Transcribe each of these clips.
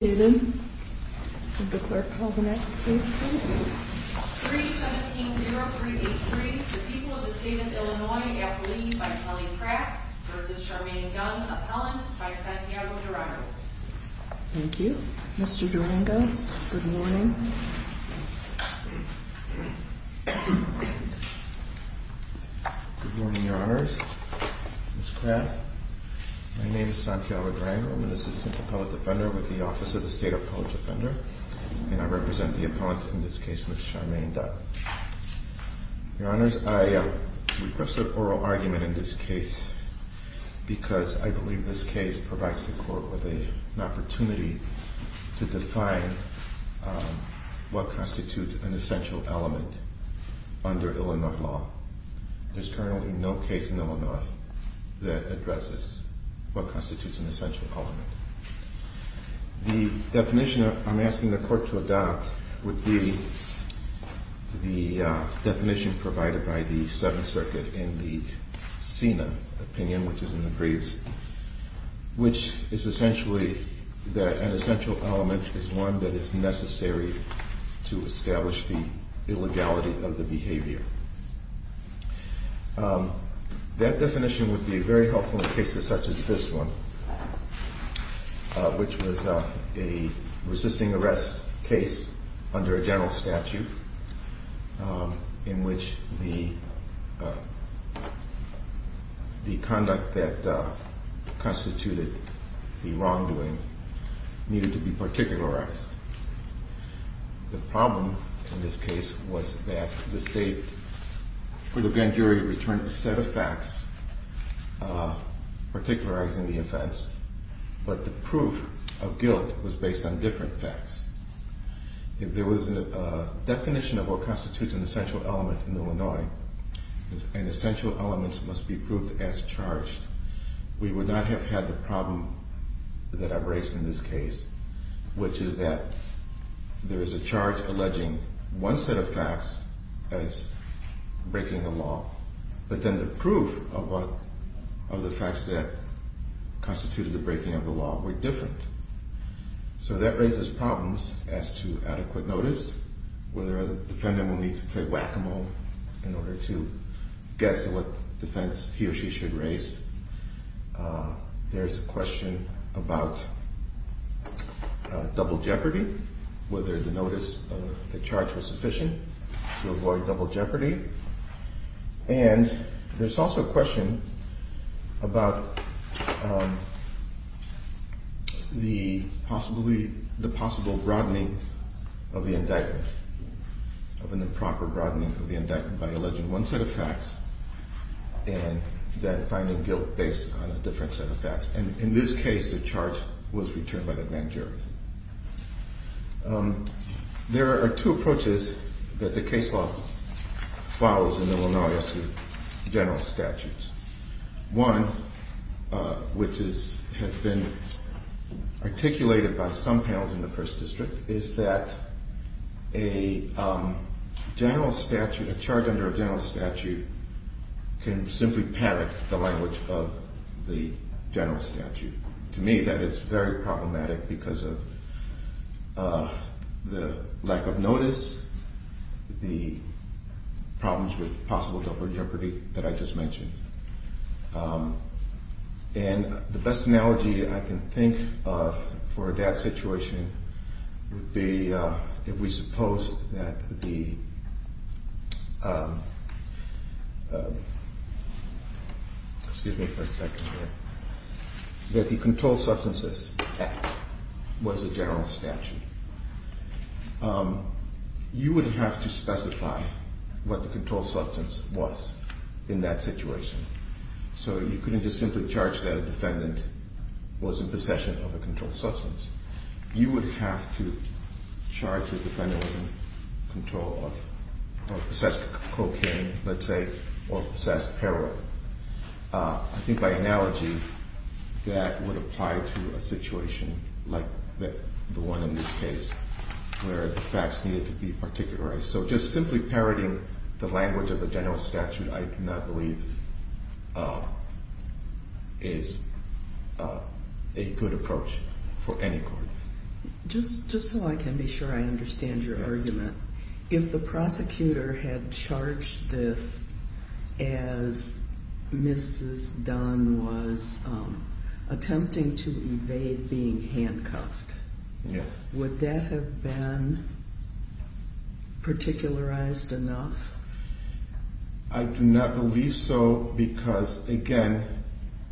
317-0383, the people of the state of Illinois, F. Lee v. Kelly Crack v. Charmaine Dunn, appellant by Santiago Durango. Thank you. Mr. Durango, good morning. Good morning, Your Honors. Ms. Dunn is a State Appellate Defender, and I represent the appellants in this case, Ms. Charmaine Dunn. Your Honors, I request an oral argument in this case because I believe this case provides the Court with an opportunity to define what constitutes an essential element under Illinois law. There's currently no case in Illinois that addresses what constitutes an essential element. The definition I'm asking the Court to adopt would be the definition provided by the Seventh Circuit in the SENA opinion, which is in the briefs, which is essentially that an essential element is one that is necessary to establish the illegality of the behavior. That definition would be very helpful in cases such as this one, which was a resisting arrest case under a general statute in which the conduct that constituted the wrongdoing needed to be particularized. The problem in this case was that the State for the grand jury returned a set of facts particularizing the offense, but the proof of guilt was based on different facts. If there was a definition of what constitutes an essential element in Illinois, and essential elements must be proved as charged, we would not have had the problem that I've raised in this case, which is that there is a charge alleging one set of facts as breaking the law, but then the proof of the facts that constituted the breaking of the law were different. So that raises problems as to adequate notice, whether the defendant will need to play whack-a-mole in order to guess at what defense he or she should raise. There's a question about double jeopardy, whether the notice of the charge was sufficient to avoid double jeopardy. And there's also a question about the possible broadening of the indictment, of an improper broadening of the indictment by alleging one set of facts and then finding guilt based on a different set of facts. And in this case, the charge was returned by the grand jury. There are two approaches that the case law follows in Illinois as to general statutes. One, which has been articulated by some panels in the first district, is that a general statute, a charge under a general statute can simply parrot the language of the general statute. To me, that is very problematic because of the lack of notice, the problems with possible double jeopardy that I just mentioned. And the best analogy I can think of for that situation would be if we suppose that the excuse me for a second here, that the Controlled Substances Act was a general statute. You would have to specify what the controlled substance was in that situation. So you couldn't just simply charge that a defendant was in possession of a controlled substance. You would have to charge that the defendant was in control of possessed cocaine, let's say, or possessed heroin. I think by analogy, that would apply to a situation like the one in this case where the facts needed to be articulated. So just simply parroting the is a good approach for any court. Just so I can be sure I understand your argument, if the prosecutor had charged this as Mrs. Dunn was attempting to evade being handcuffed, would that have been particularized enough? I do not believe so because, again,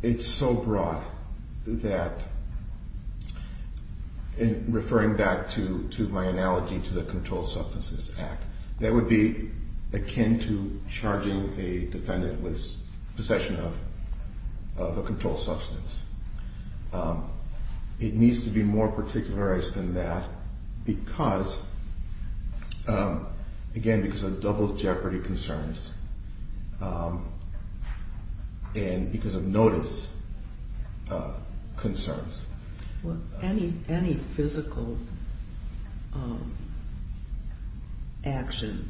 it's so broad that, referring back to my analogy to the Controlled Substances Act, that would be akin to charging a defendant with possession of a controlled substance. It needs to be more particularized than that because, again, because of double jeopardy concerns and because of notice concerns. Any physical action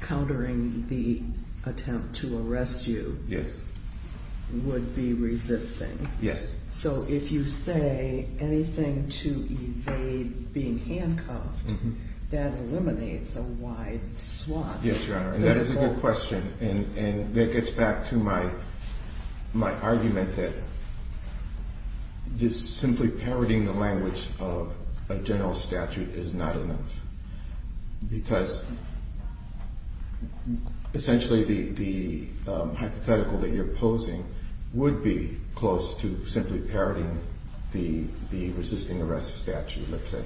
countering the attempt to arrest you would be resisting. Yes. So if you say anything to evade being handcuffed, that eliminates a wide swath. Yes, Your Honor, and that is a good question. And that gets back to my argument that just simply parroting the language of a general statute is not enough because, essentially, the hypothetical that you're posing would be close to simply parroting the resisting arrest statute, let's say.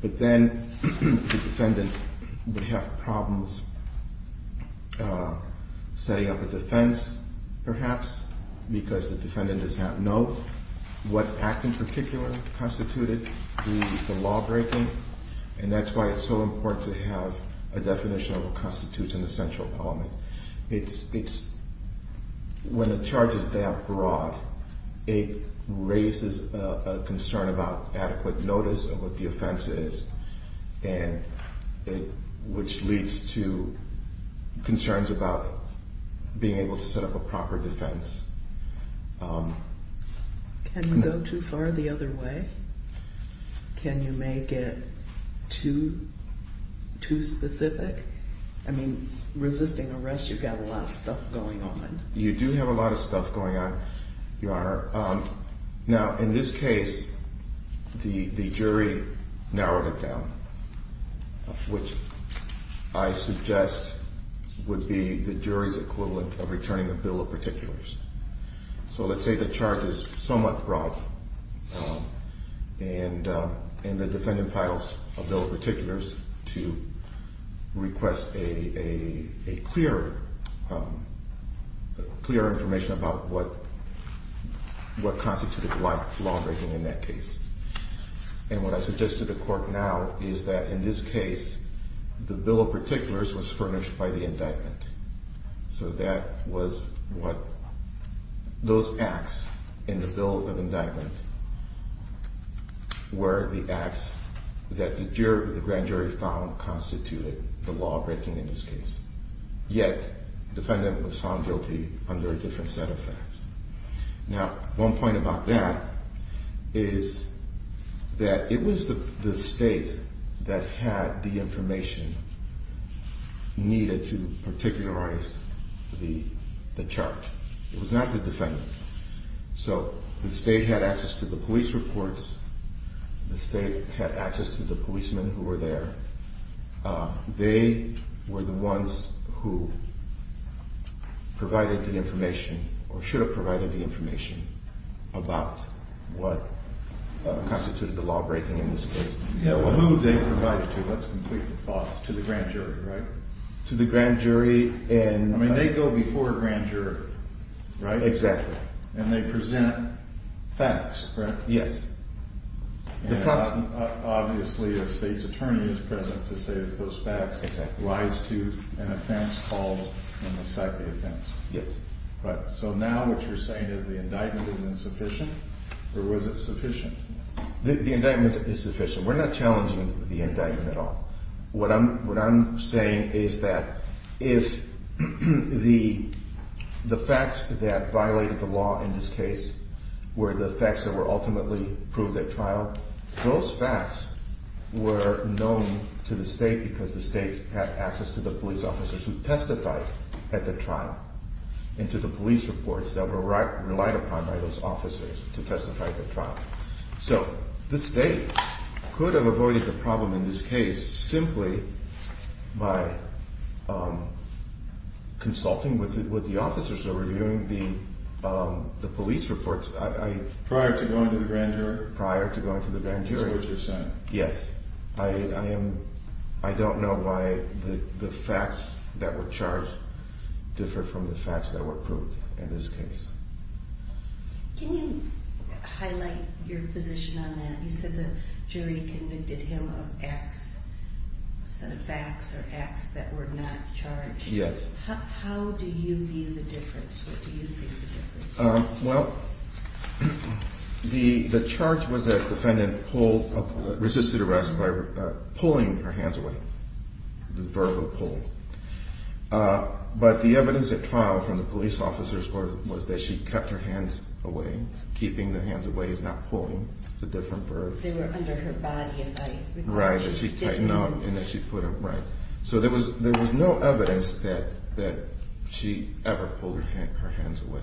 But then the defendant would have problems setting up a defense, perhaps, because the defendant does not know what act in particular constituted the lawbreaking. And that's why it's so important to have a definition of what constitutes an essential appellant. When a charge is that broad, it raises a concern about adequate notice of what the offense is, which leads to concerns about being able to set up a proper defense. Can you go too far the other way? Can you make it too specific? I mean, resisting arrest, you've got a lot of stuff going on. You do have a lot of stuff going on, Your Honor. Now, in this case, the jury narrowed it down, which I suggest would be the jury's equivalent of returning a bill of particulars. So let's say the charge is somewhat broad and the defendant files a bill of particulars to request a clear information about what constituted lawbreaking in that case. And what I suggest to the Court now is that in this case, the bill of particulars was furnished by the indictment. So that was what those acts in the bill of indictment were the acts that the grand jury found constituted the lawbreaking in this case. Yet, the defendant was found guilty under a different set of facts. Now, one point about that is that it was the State that had the information needed to particularize the charge. It was not the defendant. So the State had access to the police reports. The State had access to the policemen who were there. They were the ones who provided the information, or should have provided the information about what constituted the lawbreaking in this case. Who they provided to, let's complete the thoughts, to the grand jury, right? To the grand jury and... I mean, they go before a grand jury, right? Exactly. And they present facts, correct? Yes. Obviously, a State's attorney is present to say that those facts lies to an offense called an inciting offense. Yes. So now what you're saying is the indictment is insufficient, or was it sufficient? The indictment is sufficient. We're not challenging the indictment at all. What I'm saying is that if the facts that violated the law in this case were the facts that were ultimately proved at trial, those facts were known to the State because the State had access to the police officers who testified at the trial and to the police reports that were relied upon by those officers to testify at the trial. So the State could have avoided the problem in this case simply by consulting with the officers or reviewing the police reports. Prior to going to the grand jury? Prior to going to the grand jury. Yes. I don't know why the facts that were charged differed from the facts that were proved in this case. Can you highlight your position on that? You said the jury convicted him of X set of facts or X that were not charged. Yes. How do you view the difference? What do you think of the difference? Well, the charge was that the defendant resisted arrest by pulling her hands away, the verb of pull. But the evidence at trial from the police officers was that she kept her hands away. Keeping the hands away is not pulling. It's a different verb. They were under her body and I recall she stiffened them. So there was no evidence that she ever pulled her hands away.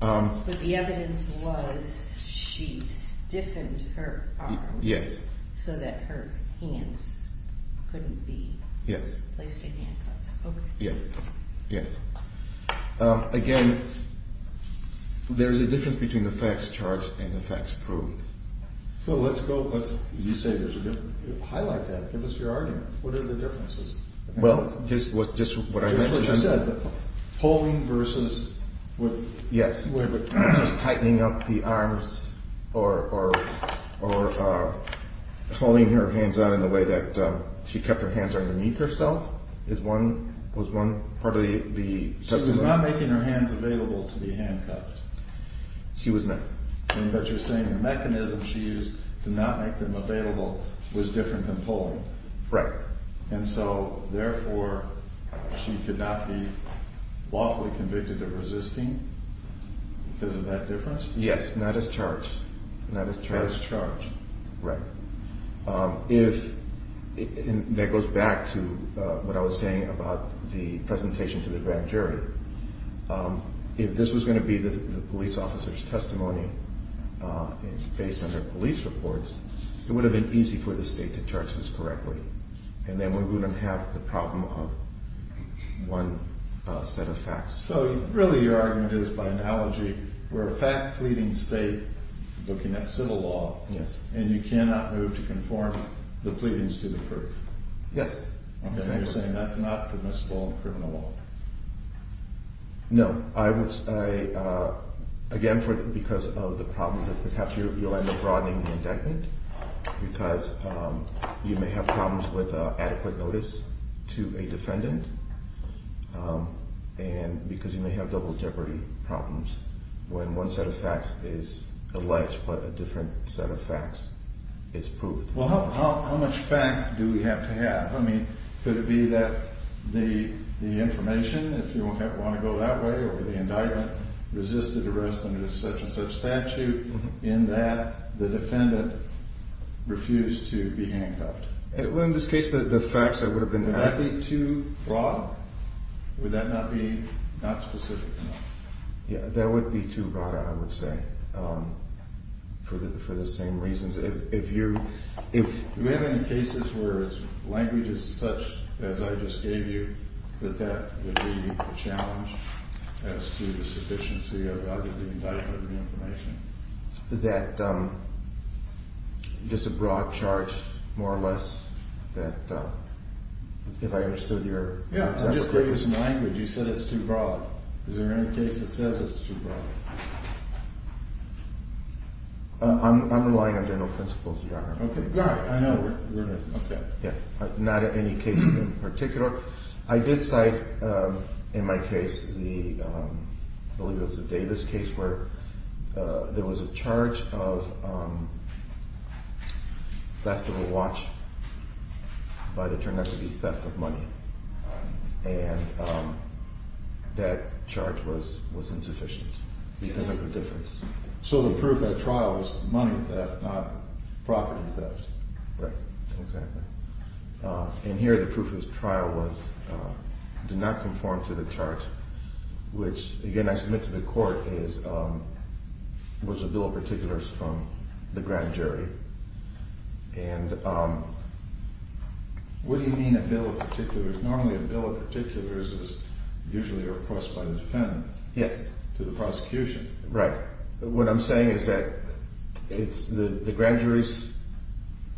But the evidence was she stiffened her arms so that her hands couldn't be placed in handcuffs. Yes. Again, there's a difference between the facts charged and the facts proved. So let's go with, you say there's a difference. Highlight that. Give us your argument. What are the differences? Well, just what I said. Pulling versus tightening up the arms or pulling her hands out in a way that she kept her hands underneath herself was one part of the testimony. She was not making her hands available to be handcuffed. She was not. But you're saying the mechanism she used to not make them available was different than pulling. Right. And so therefore, she could not be lawfully convicted of resisting because of that difference? Yes. Not as charged. Not as charged. Right. That goes back to what I was saying about the presentation to the grand jury. If this was going to be the police officer's testimony based on her police reports, it would have been easy for the state to charge this correctly. And then we wouldn't have the problem of one set of facts. So really, your argument is by analogy, we're a fact pleading state looking at civil law. Yes. And you cannot move to conform the pleadings to the proof? Yes. And you're saying that's not permissible in criminal law? No. Again, because of the problems that perhaps you'll end up broadening the indictment because you may have problems with adequate notice to a defendant and because you may have double jeopardy problems when one set of facts is alleged but a different set of facts is proved. Well, how much fact do we have to have? I mean, could it be that the information, if you want to go that way, or the indictment resisted arrest under such and such statute in that the defendant refused to be handcuffed? Well, in this case, the facts that would have been added. Would that be too broad? Would that not be not specific enough? Yeah, that would be too broad, I would say, for the same reasons. Do we have any cases where language is such, as I just gave you, that that would be a challenge as to the sufficiency of the indictment information? That just a broad charge, more or less, that if I understood your point. Yeah, I just gave you some language. You said it's too broad. Is there any case that says it's too broad? I'm relying on general principles, Your Honor. Okay, yeah, I know. Not in any case in particular. I did cite in my case, I believe it was the Davis case, where there was a charge of theft of a watch, but it turned out to be theft of money. And that charge was insufficient because of the difference. So the proof at trial was money theft, not property theft. Right, exactly. And here the proof of this trial was it did not conform to the charge, which, again, I submit to the court, was a bill of particulars from the grand jury. And what do you mean a bill of particulars? Normally a bill of particulars is usually repressed by the defendant to the prosecution. Right. What I'm saying is that the grand jury's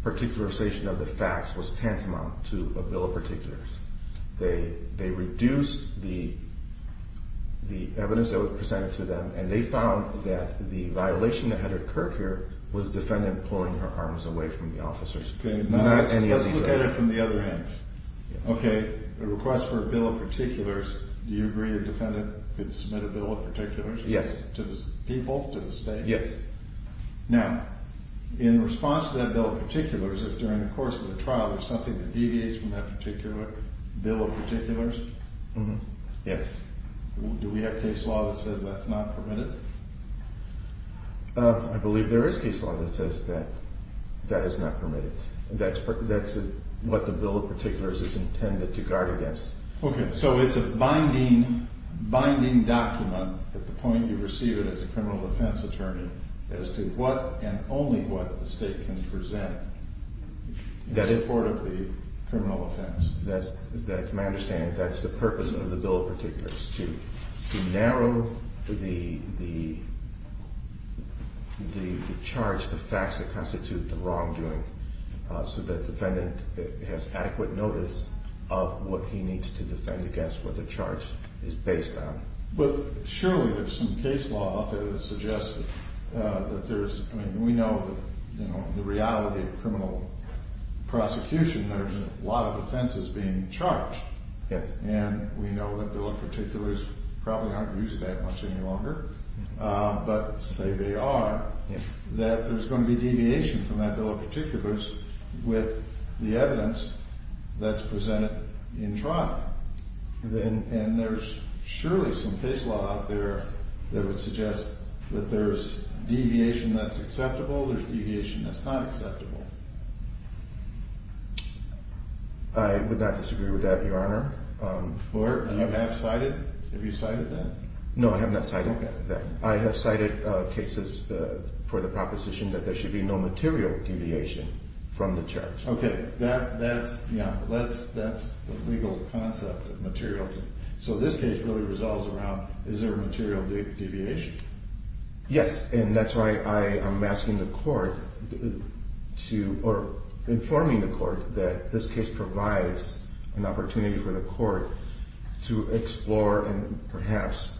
particularization of the facts was tantamount to a bill of particulars. They reduced the evidence that was presented to them, and they found that the violation that had occurred here was the defendant pulling her arms away from the officers. Okay, let's look at it from the other hand. Okay, a request for a bill of particulars, do you agree the defendant could submit a bill of particulars? Yes. To the people, to the state? Yes. Now, in response to that bill of particulars, if during the course of the trial there's something that deviates from that particular bill of particulars? Yes. Do we have case law that says that's not permitted? I believe there is case law that says that that is not permitted. That's what the bill of particulars is intended to guard against. Okay, so it's a binding document at the point you receive it as a criminal defense attorney as to what and only what the state can present in support of the criminal offense. That's my understanding. That's the purpose of the bill of particulars, to narrow the charge, the facts that constitute the wrongdoing, so that the defendant has adequate notice of what he needs to defend against, what the charge is based on. But surely there's some case law out there that suggests that there's, I mean, we know the reality of criminal prosecution. There's a lot of offenses being charged. Yes. And we know that bill of particulars probably aren't used that much any longer, but say they are, that there's going to be deviation from that bill of particulars with the evidence that's presented in trial. And there's surely some case law out there that would suggest that there's deviation that's acceptable, there's deviation that's not acceptable. I would not disagree with that, Your Honor. And you have cited, have you cited that? No, I have not cited that. Okay. I have cited cases for the proposition that there should be no material deviation from the charge. Okay, that's the legal concept of material. So this case really resolves around is there a material deviation? Yes, and that's why I am asking the court to, or informing the court that this case provides an opportunity for the court to explore and perhaps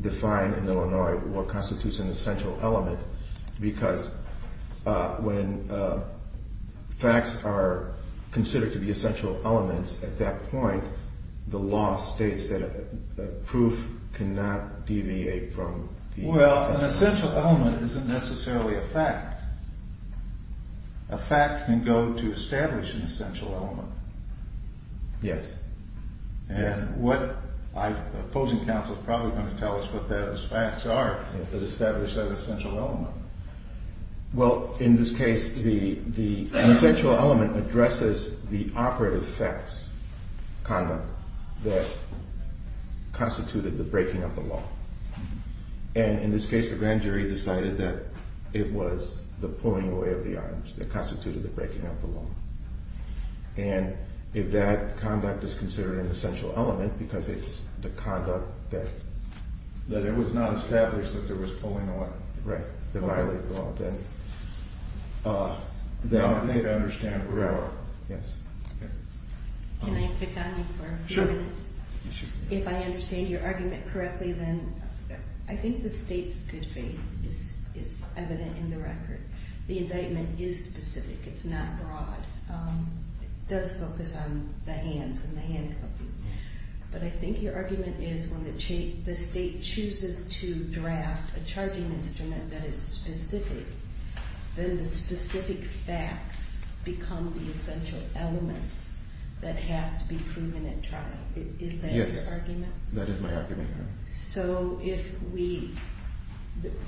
define in Illinois what constitutes an essential element, because when facts are considered to be essential elements, at that point the law states that a proof cannot deviate from the essential element. Well, an essential element isn't necessarily a fact. A fact can go to establish an essential element. Yes. And what I, the opposing counsel is probably going to tell us what those facts are that establish that essential element. Well, in this case, the essential element addresses the operative facts conduct that constituted the breaking of the law. And in this case, the grand jury decided that it was the pulling away of the arms that constituted the breaking of the law. And if that conduct is considered an essential element because it's the conduct that That it was not established that there was pulling away. Right. That violated the law, then they'd understand where I was. Yes. Can I pick on you for a few minutes? Sure. If I understand your argument correctly, then I think the state's good faith is evident in the record. The indictment is specific. It's not broad. It does focus on the hands and the handcuffing. But I think your argument is when the state chooses to draft a charging instrument that is specific, then the specific facts become the essential elements that have to be proven and tried. Is that your argument? Yes. That is my argument. So if we,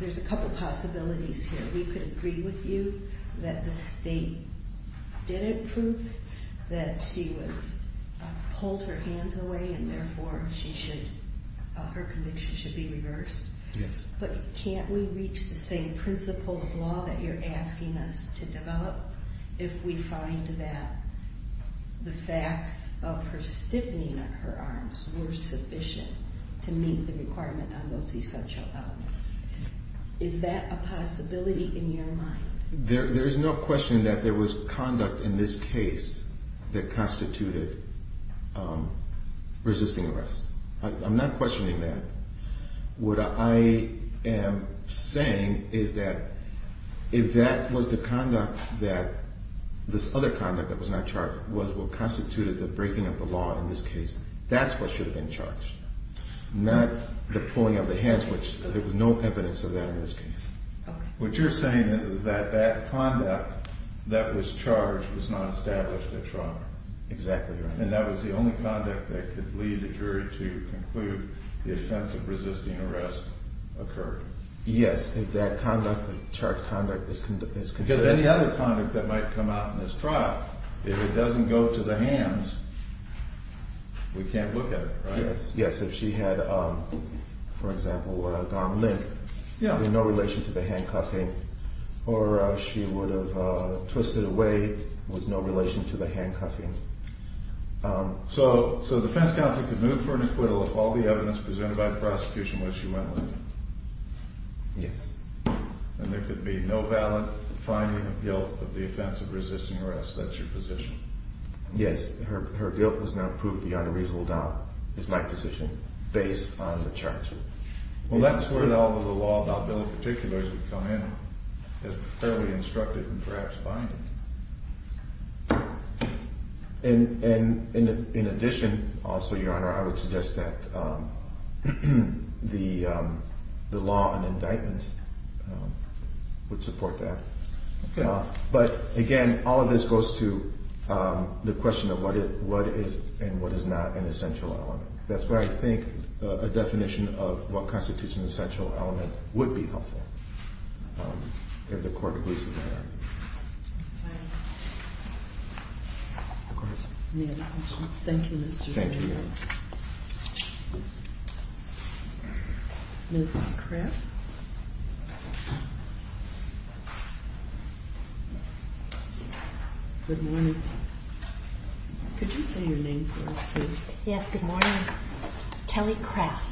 there's a couple possibilities here. We could agree with you that the state didn't prove that she was pulled her hands away and therefore she should, her conviction should be reversed. Yes. But can't we reach the same principle of law that you're asking us to develop if we find that the facts of her stiffening of her arms were sufficient to meet the requirement on those essential elements? Is that a possibility in your mind? There is no question that there was conduct in this case that constituted resisting arrest. I'm not questioning that. What I am saying is that if that was the conduct that this other conduct that was not charged was what constituted the breaking of the law in this case, that's what should have been charged, not the pulling of the hands, which there was no evidence of that in this case. Okay. What you're saying is that that conduct that was charged was not established at trial. Exactly right. And that was the only conduct that could lead a jury to conclude the offense of resisting arrest occurred. Yes, if that conduct, the charged conduct is considered. Because any other conduct that might come out in this trial, if it doesn't go to the hands, we can't look at it, right? Yes, if she had, for example, gone limp, no relation to the handcuffing, or she would have twisted away with no relation to the handcuffing. So the defense counsel could move for an acquittal if all the evidence presented by the prosecution was she went limp? Yes. And there could be no valid finding of guilt of the offense of resisting arrest. That's your position? Yes. Her guilt was not proved beyond a reasonable doubt, is my position, based on the charge. Well, that's where all of the law about billing particulars would come in as a fairly instructive and perhaps binding. And in addition, also, Your Honor, I would suggest that the law on indictments would support that. Okay. But, again, all of this goes to the question of what is and what is not an essential element. That's where I think a definition of what constitutes an essential element would be helpful, if the Court agrees with that. Thank you. Of course. Any other questions? Thank you, Mr. Dufresne. Thank you, Your Honor. Ms. Kraff? Good morning. Could you say your name for us, please? Yes. Good morning. Kelly Kraff.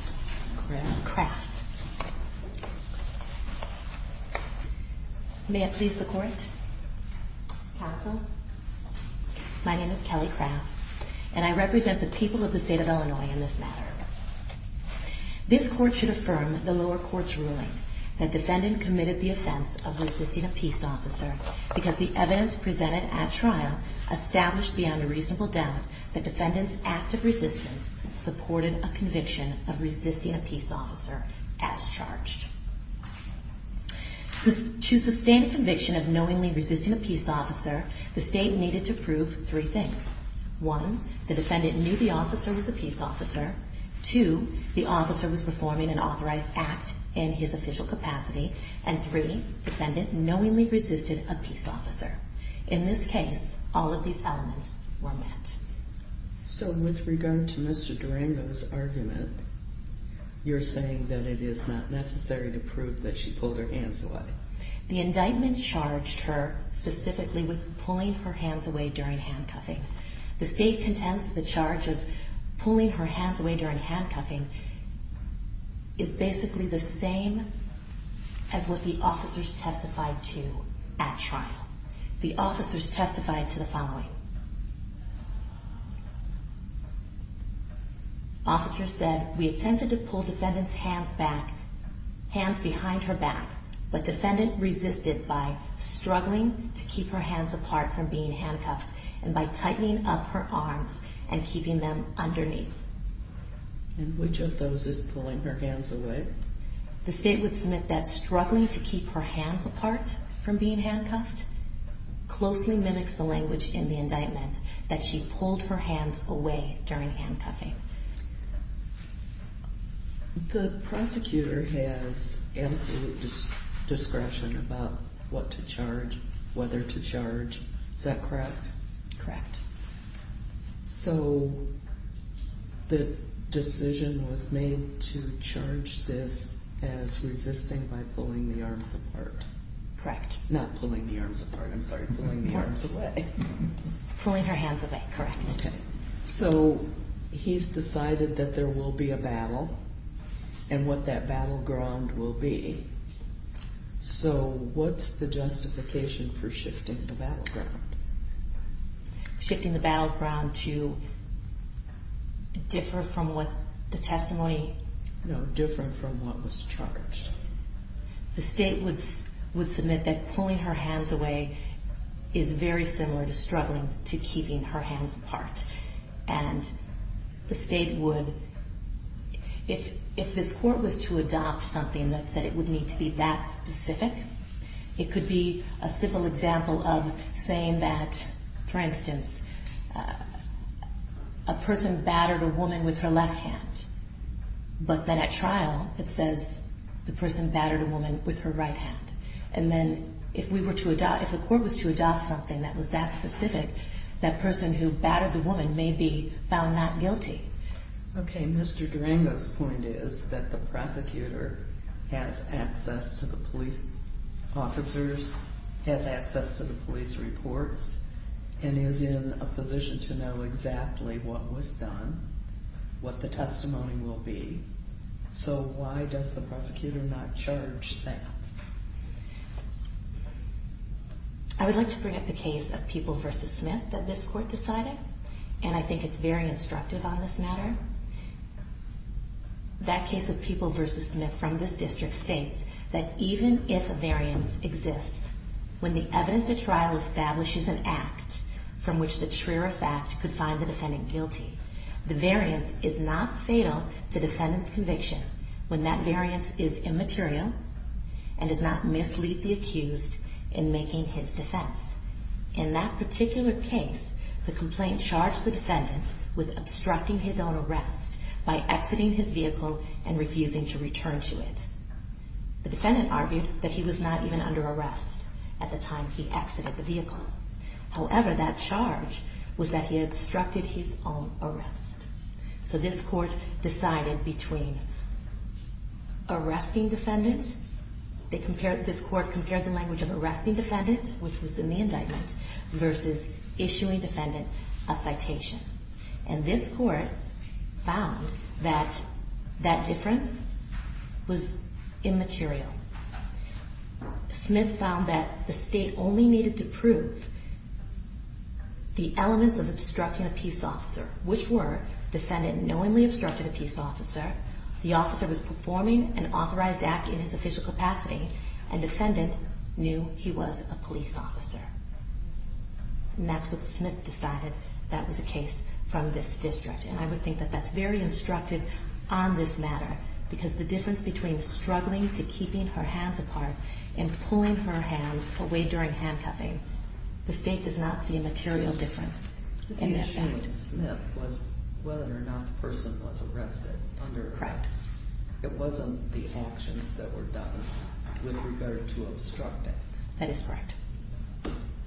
Kraff. Kraff. May I please the Court? Counsel? My name is Kelly Kraff, and I represent the people of the State of Illinois in this matter. This Court should affirm the lower court's ruling that defendant committed the offense of resisting a peace officer because the evidence presented at trial established beyond a reasonable doubt that defendant's act of resistance supported a conviction of resisting a peace officer as charged. To sustain a conviction of knowingly resisting a peace officer, the State needed to prove three things. One, the defendant knew the officer was a peace officer. Two, the officer was performing an authorized act in his official capacity. And three, defendant knowingly resisted a peace officer. In this case, all of these elements were met. So with regard to Mr. Durango's argument, you're saying that it is not necessary to prove that she pulled her hands away? No. The indictment charged her specifically with pulling her hands away during handcuffing. The State contends that the charge of pulling her hands away during handcuffing is basically the same as what the officers testified to at trial. The officers testified to the following. The defendant resisted by struggling to keep her hands apart from being handcuffed and by tightening up her arms and keeping them underneath. And which of those is pulling her hands away? The State would submit that struggling to keep her hands apart from being handcuffed closely mimics the language in the indictment, that she pulled her hands away during handcuffing. The prosecutor has absolute discretion about what to charge, whether to charge. Is that correct? Correct. So the decision was made to charge this as resisting by pulling the arms apart. Correct. Not pulling the arms apart, I'm sorry, pulling the arms away. Pulling her hands away, correct. Okay. So he's decided that there will be a battle and what that battleground will be. So what's the justification for shifting the battleground? Shifting the battleground to differ from what the testimony? No, different from what was charged. The State would submit that pulling her hands away is very similar to struggling to keeping her hands apart. And the State would, if this court was to adopt something that said it would need to be that specific, it could be a simple example of saying that, for instance, a person battered a woman with her left hand. But then at trial it says the person battered a woman with her right hand. And then if the court was to adopt something that was that specific, that person who battered the woman may be found not guilty. Okay. Mr. Durango's point is that the prosecutor has access to the police officers, has access to the police reports, and is in a position to know exactly what was done, what the testimony will be. So why does the prosecutor not charge that? I would like to bring up the case of People v. Smith that this court decided, and I think it's very instructive on this matter. That case of People v. Smith from this district states that even if a variance exists, when the evidence at trial establishes an act from which the truer fact could find the defendant guilty, the variance is not fatal to defendant's conviction when that variance is immaterial and does not mislead the accused in making his defense. In that particular case, the complaint charged the defendant with obstructing his own arrest by exiting his vehicle and refusing to return to it. The defendant argued that he was not even under arrest at the time he exited the vehicle. However, that charge was that he obstructed his own arrest. So this court decided between arresting defendant. This court compared the language of arresting defendant, which was in the indictment, versus issuing defendant a citation. And this court found that that difference was immaterial. Smith found that the state only needed to prove the elements of obstructing a peace officer, which were defendant knowingly obstructed a peace officer, the officer was performing an authorized act in his official capacity, and defendant knew he was a police officer. And that's what Smith decided that was the case from this district. And I would think that that's very instructive on this matter because the difference between struggling to keeping her hands apart and pulling her hands away during handcuffing, the state does not see a material difference. The issue with Smith was whether or not the person was arrested. Correct. It wasn't the actions that were done with regard to obstructing. That is correct.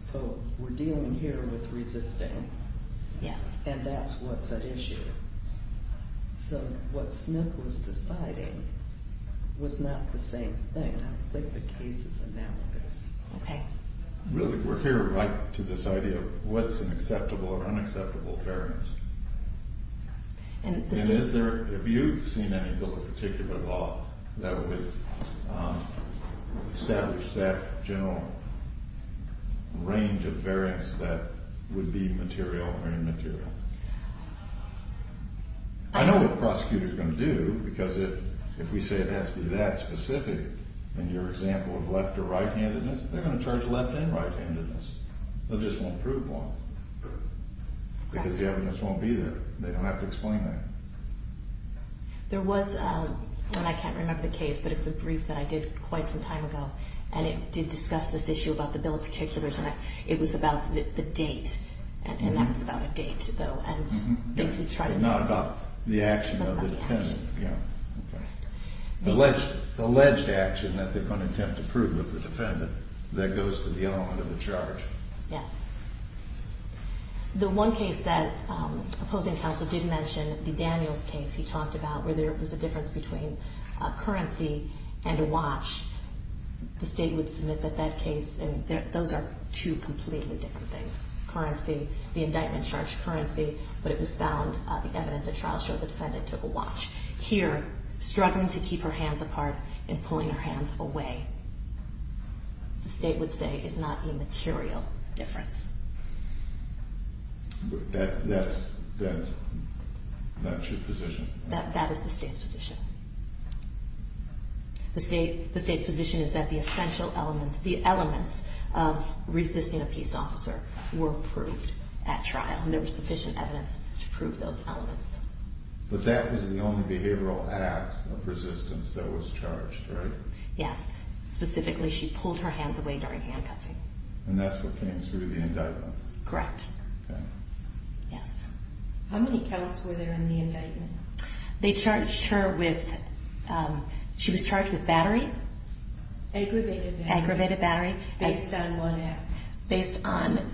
So we're dealing here with resisting. Yes. And that's what's at issue. So what Smith was deciding was not the same thing. I think the case is analogous. Okay. Really, we're here right to this idea of what's an acceptable or unacceptable variance. And is there, have you seen any bill in particular at all that would establish that general range of variance that would be material or immaterial? I know what the prosecutor's going to do because if we say it has to be that specific in your example of left or right-handedness, they're going to charge left and right-handedness. They just won't prove one because the evidence won't be there. They don't have to explain that. There was, and I can't remember the case, but it was a brief that I did quite some time ago, and it did discuss this issue about the bill in particular. It was about the date, and that was about a date, though. Not about the action of the defendant. It was about the actions. Okay. The alleged action that they're going to attempt to prove of the defendant that goes to the element of the charge. Yes. The one case that opposing counsel did mention, the Daniels case he talked about, where there was a difference between a currency and a watch. The state would submit that that case, and those are two completely different things. Currency, the indictment charged currency, but it was found, the evidence at trial showed the defendant took a watch. Here, struggling to keep her hands apart and pulling her hands away. The state would say it's not a material difference. That's your position? That is the state's position. The state's position is that the essential elements, the elements of resisting a peace officer were proved at trial, and there was sufficient evidence to prove those elements. But that was the only behavioral act of resistance that was charged, right? Yes. Specifically, she pulled her hands away during handcuffing. And that's what came through the indictment? Correct. Okay. Yes. How many counts were there in the indictment? They charged her with, she was charged with battery. Aggravated battery. Aggravated battery. Based on what act? Based on,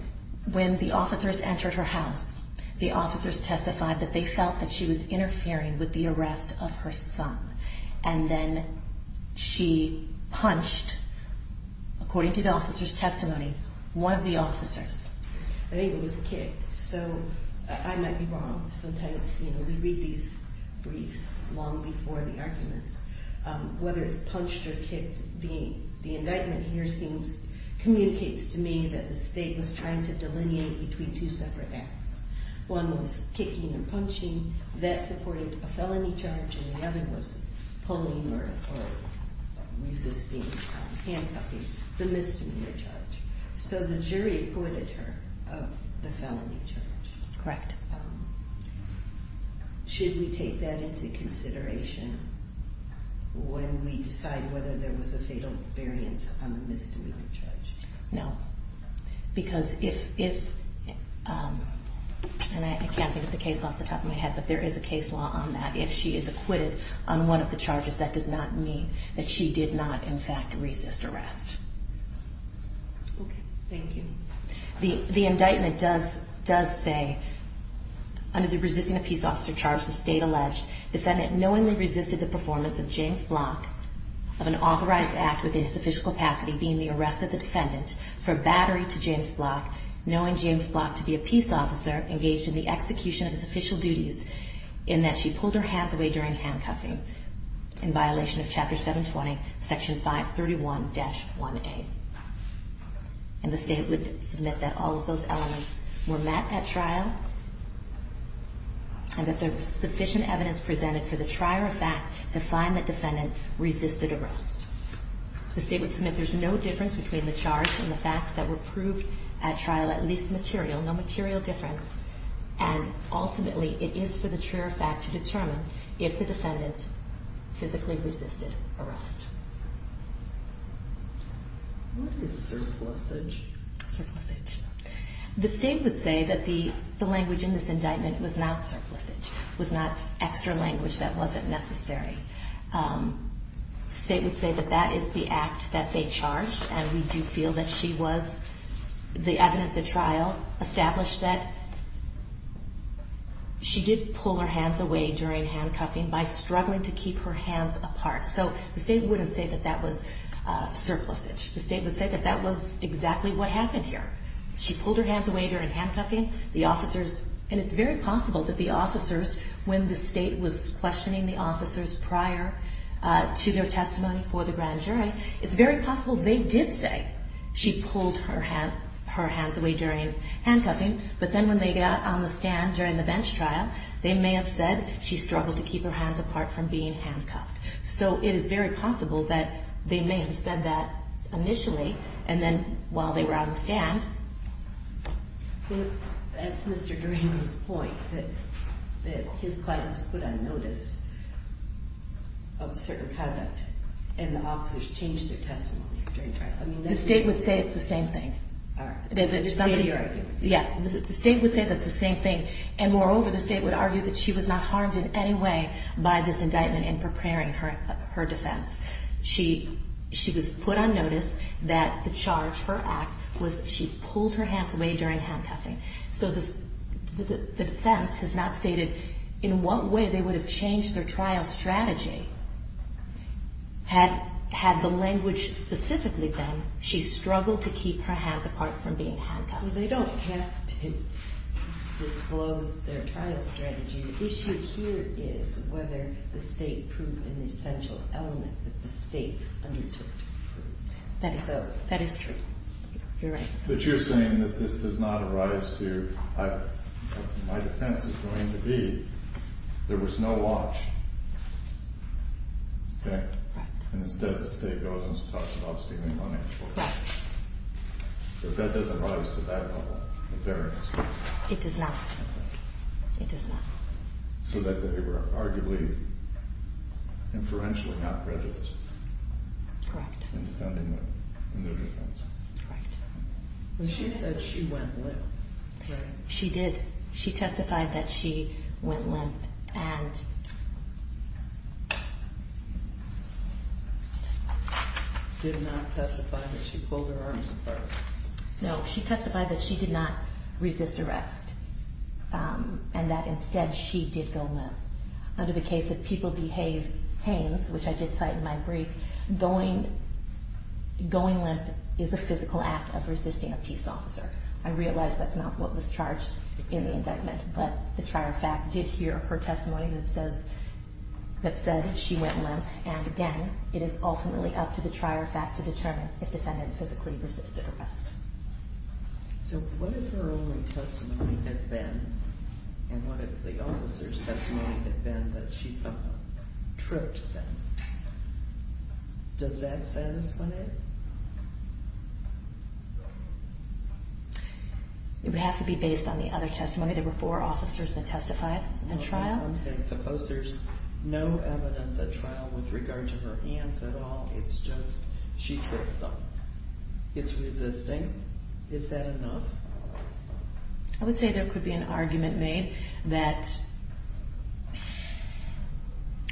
when the officers entered her house, the officers testified that they felt that she was interfering with the arrest of her son. And then she punched, according to the officer's testimony, one of the officers. I think it was kicked. So I might be wrong. Sometimes, you know, we read these briefs long before the arguments. Whether it's punched or kicked, the indictment here seems, communicates to me, that the state was trying to delineate between two separate acts. One was kicking and punching. That supported a felony charge. And the other was pulling or resisting handcuffing, the misdemeanor charge. So the jury acquitted her of the felony charge. Correct. Should we take that into consideration when we decide whether there was a fatal variance on the misdemeanor charge? No. Because if, and I can't think of the case off the top of my head, but there is a case law on that. If she is acquitted on one of the charges, that does not mean that she did not, in fact, resist arrest. Okay. Thank you. The indictment does say, under the resisting a peace officer charge the state alleged, defendant knowingly resisted the performance of James Block, of an authorized act within his official capacity being the arrest of the defendant for battery to James Block, knowing James Block to be a peace officer engaged in the execution of his official duties, in that she pulled her hands away during handcuffing, in violation of Chapter 720, Section 531-1A. And the state would submit that all of those elements were met at trial, and that there was sufficient evidence presented for the trier of fact to find the defendant resisted arrest. The state would submit there's no difference between the charge and the facts that were proved at trial, at least material, no material difference. And ultimately, it is for the trier of fact to determine if the defendant physically resisted arrest. What is surplusage? Surplusage. The state would say that the language in this indictment was not surplusage, was not extra language that wasn't necessary. The state would say that that is the act that they charged, and we do feel that she was, the evidence at trial established that she did pull her hands away during handcuffing by struggling to keep her hands apart. So the state wouldn't say that that was surplusage. The state would say that that was exactly what happened here. She pulled her hands away during handcuffing. The officers, and it's very possible that the officers, when the state was questioning the officers prior to their testimony for the grand jury, it's very possible they did say she pulled her hands away during handcuffing, but then when they got on the stand during the bench trial, they may have said she struggled to keep her hands apart from being handcuffed. So it is very possible that they may have said that initially, and then while they were out on the stand. That's Mr. Durango's point, that his client was put on notice of a certain conduct, and the officers changed their testimony during trial. The state would say it's the same thing. All right. Somebody argued with you. Yes. The state would say that's the same thing, and moreover, the state would argue that she was not harmed in any way by this indictment in preparing her defense. She was put on notice that the charge, her act, was that she pulled her hands away during handcuffing. So the defense has not stated in what way they would have changed their trial strategy had the language specifically been she struggled to keep her hands apart from being handcuffed. They don't have to disclose their trial strategy. The issue here is whether the state proved an essential element that the state undertook to prove. That is so. That is true. You're right. But you're saying that this does not arise to my defense is going to be there was no watch. Right. And instead the state goes and talks about stealing money. Right. But that doesn't rise to that level of fairness. It does not. It does not. So that they were arguably inferentially not prejudiced. Correct. In defending them in their defense. Correct. She said she went limp. She did. She testified that she went limp and did not testify that she pulled her arms apart. No, she testified that she did not resist arrest and that instead she did go limp. Under the case of People v. Haynes, which I did cite in my brief, going limp is a physical act of resisting a peace officer. I realize that's not what was charged in the indictment, but the trier of fact did hear her testimony that said she went limp. And, again, it is ultimately up to the trier of fact to determine if the defendant physically resisted arrest. So what if her only testimony had been, and what if the officer's testimony had been that she somehow tripped them? Does that satisfy it? It would have to be based on the other testimony. There were four officers that testified in trial. I'm saying suppose there's no evidence at trial with regard to her hands at all. It's just she tripped them. It's resisting. Is that enough? I would say there could be an argument made that,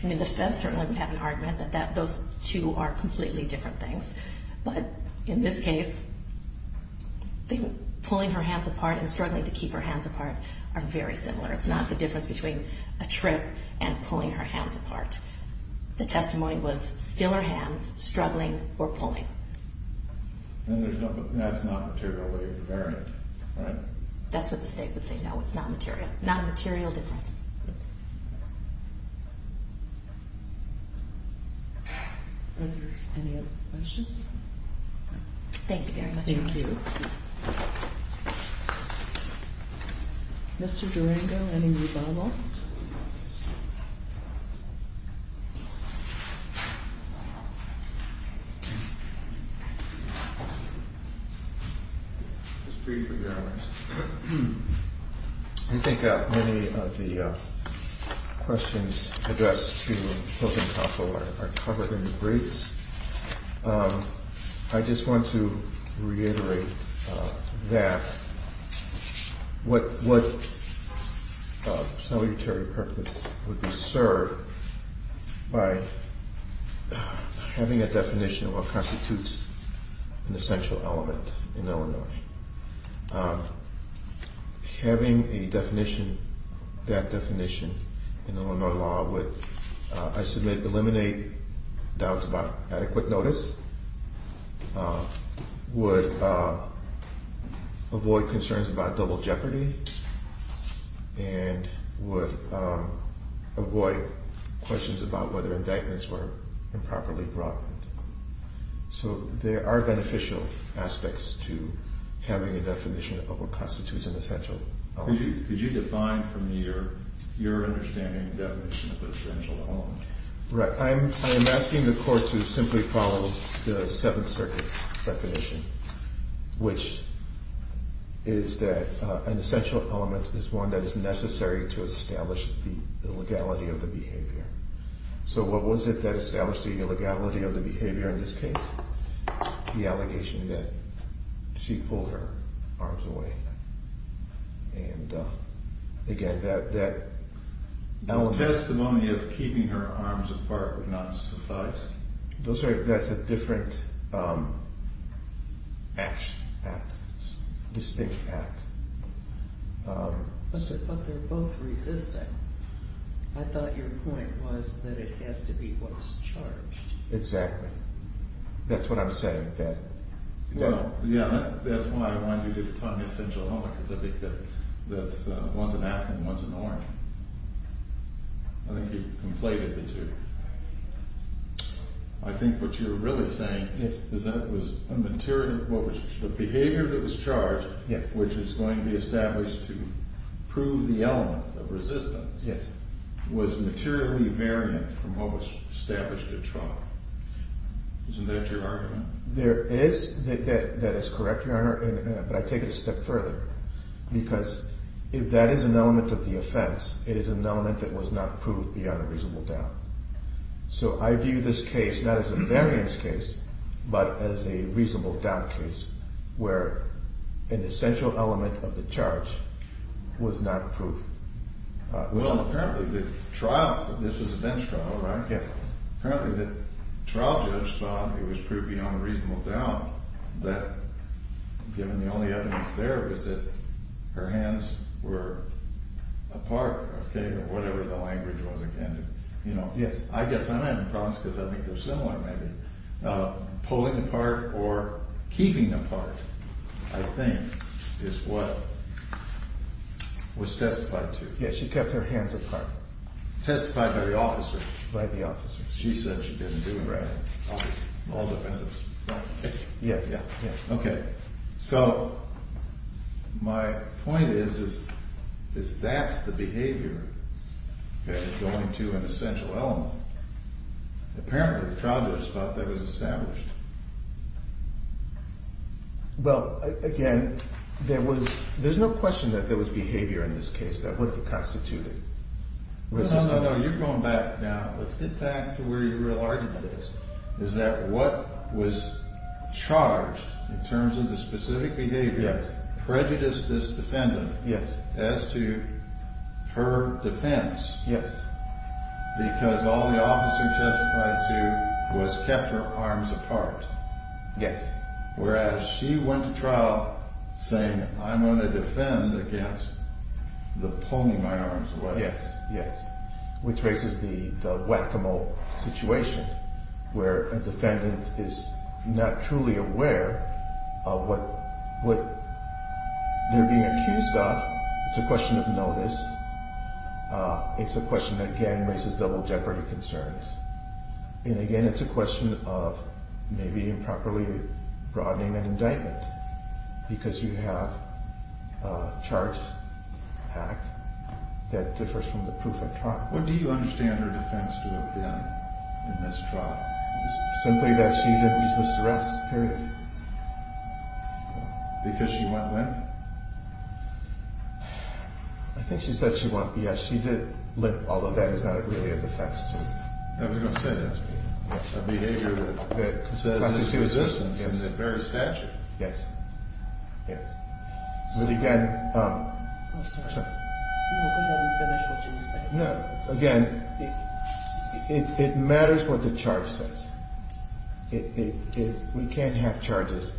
I mean, the defense certainly would have an argument that those two are completely different things. But in this case, pulling her hands apart and struggling to keep her hands apart are very similar. It's not the difference between a trip and pulling her hands apart. The testimony was still her hands, struggling, or pulling. And that's not materially invariant, right? That's what the state would say. No, it's not material. Not a material difference. Are there any other questions? Thank you very much. Thank you. Mr. Durango, any rebuttal? I think many of the questions addressed to Hilton Koppel are covered in the briefs. I just want to reiterate that. What salutary purpose would be served by having a definition of what constitutes an essential element in Illinois? Having a definition, that definition, in Illinois law would, I submit, address concerns about double jeopardy and would avoid questions about whether indictments were improperly brought. So there are beneficial aspects to having a definition of what constitutes an essential element. Could you define from your understanding the definition of essential element? Right. I am asking the Court to simply follow the Seventh Circuit's definition, which is that an essential element is one that is necessary to establish the legality of the behavior. So what was it that established the legality of the behavior in this case? The allegation that she pulled her arms away. And again, that allegation... Testimony of keeping her arms apart would not suffice. That's a different act, distinct act. But they're both resistant. I thought your point was that it has to be what's charged. Exactly. That's what I'm saying. Well, yeah, that's why I wanted you to define essential element because I think that one's an apple and one's an orange. I think you've conflated the two. I think what you're really saying is that it was a material... The behavior that was charged, which is going to be established to prove the element of resistance, was materially variant from what was established at trial. Isn't that your argument? That is correct, Your Honor, but I take it a step further because if that is an element of the offense, it is an element that was not proved beyond a reasonable doubt. So I view this case not as a variance case but as a reasonable doubt case where an essential element of the charge was not proved. Well, apparently the trial... This was a bench trial, right? Yes. Apparently the trial judge thought it was proved beyond a reasonable doubt given the only evidence there was that her hands were apart, okay, whatever the language was again. Yes, I guess I'm having problems because I think they're similar maybe. Pulling apart or keeping apart, I think, is what was testified to. Yes, she kept her hands apart. Testified by the officer. By the officer. She said she didn't do it. All defendants. Yes, yes. Okay, so my point is that's the behavior going to an essential element. Apparently the trial judge thought that was established. Well, again, there's no question that there was behavior in this case, that would have constituted. No, no, no, you're going back now. Let's get back to where your real argument is. Is that what was charged in terms of the specific behavior prejudiced this defendant as to her defense because all the officer testified to was kept her arms apart. Yes. Whereas she went to trial saying, I'm going to defend against the pulling my arms away. Yes, yes. Which raises the whack-a-mole situation where a defendant is not truly aware of what they're being accused of. It's a question of notice. It's a question that, again, raises double jeopardy concerns. And, again, it's a question of maybe improperly broadening an indictment because you have a charge packed that differs from the proof at trial. What do you understand her defense to have been in this trial? Simply that she didn't resist arrest, period. Because she went limp? I think she said she went limp. Yes, she did limp, although that is not really a defense. I was going to say that. A behavior that consists of resistance in the very statute. Yes, yes. But, again, again, it matters what the charge says. We can't have charges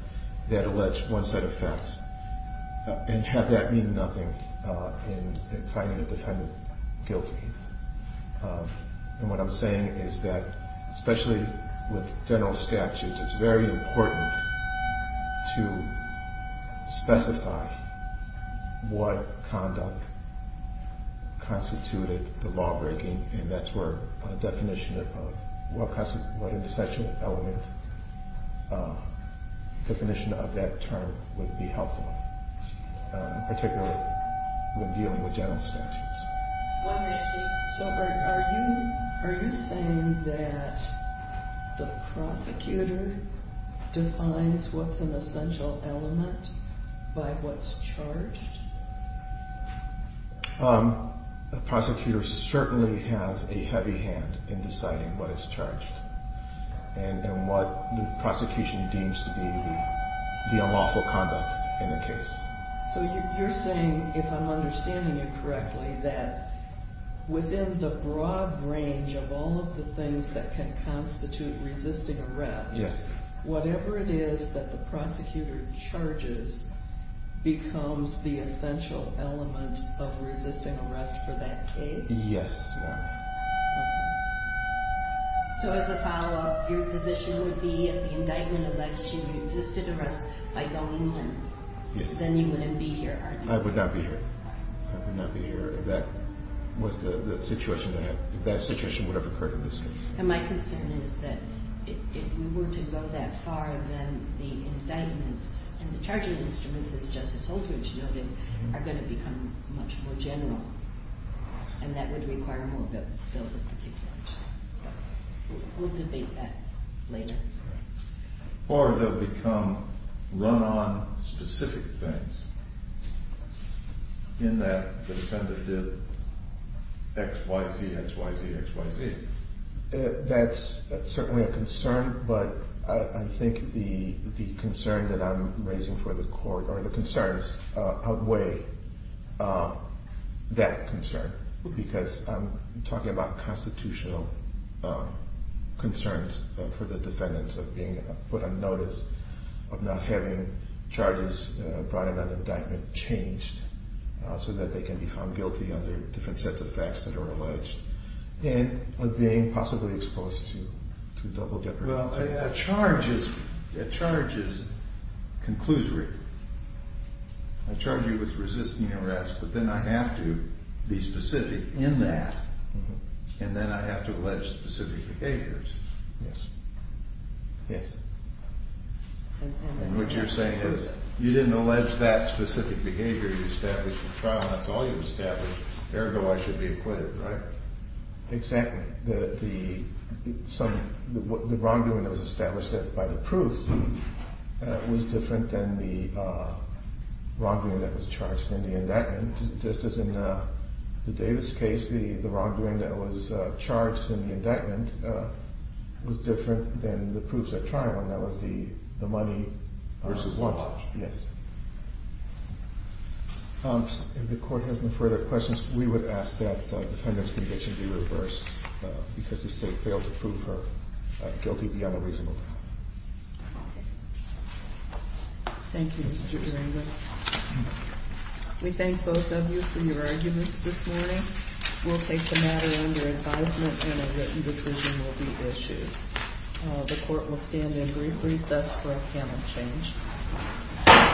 that allege one set of facts and have that mean nothing in finding a defendant guilty. And what I'm saying is that, especially with general statutes, it's very important to specify what conduct constituted the lawbreaking, and that's where a definition of what intersectional element, a definition of that term would be helpful, particularly when dealing with general statutes. So are you saying that the prosecutor defines what's an essential element by what's charged? The prosecutor certainly has a heavy hand in deciding what is charged and what the prosecution deems to be the unlawful conduct in a case. So you're saying, if I'm understanding you correctly, that within the broad range of all of the things that can constitute resisting arrest, whatever it is that the prosecutor charges becomes the essential element of resisting arrest for that case? Yes, ma'am. So as a follow-up, your position would be, if the indictment alleged you resisted arrest by going in, then you wouldn't be here, are you? I would not be here. I would not be here if that was the situation, if that situation would have occurred in this case. And my concern is that if we were to go that far, then the indictments and the charging instruments, as Justice Holdridge noted, are going to become much more general, and that would require more bills of particulars. We'll debate that later. Or they'll become run-on specific things, in that the defendant did X, Y, Z, X, Y, Z, X, Y, Z. That's certainly a concern, but I think the concern that I'm raising for the Court, or the concerns outweigh that concern, because I'm talking about constitutional concerns for the defendants of being put on notice, of not having charges brought in on indictment changed, so that they can be found guilty under different sets of facts that are alleged, and of being possibly exposed to double jeopardy. Well, a charge is conclusory. I charge you with resisting arrest, but then I have to be specific in that, and then I have to allege specific behaviors. Yes. Yes. And what you're saying is, you didn't allege that specific behavior, you established the trial, that's all you established, ergo I should be acquitted, right? Exactly. The wrongdoing that was established by the proof was different than the wrongdoing that was charged in the indictment. Just as in the Davis case, the wrongdoing that was charged in the indictment was different than the proofs at trial, and that was the money... Versus watch. Yes. If the Court has no further questions, we would ask that the defendant's conviction be reversed, because the State failed to prove her guilty beyond a reasonable doubt. Thank you, Mr. Durango. We thank both of you for your arguments this morning. We'll take the matter under advisement, and a written decision will be issued. The Court will stand in brief recess for a panel change.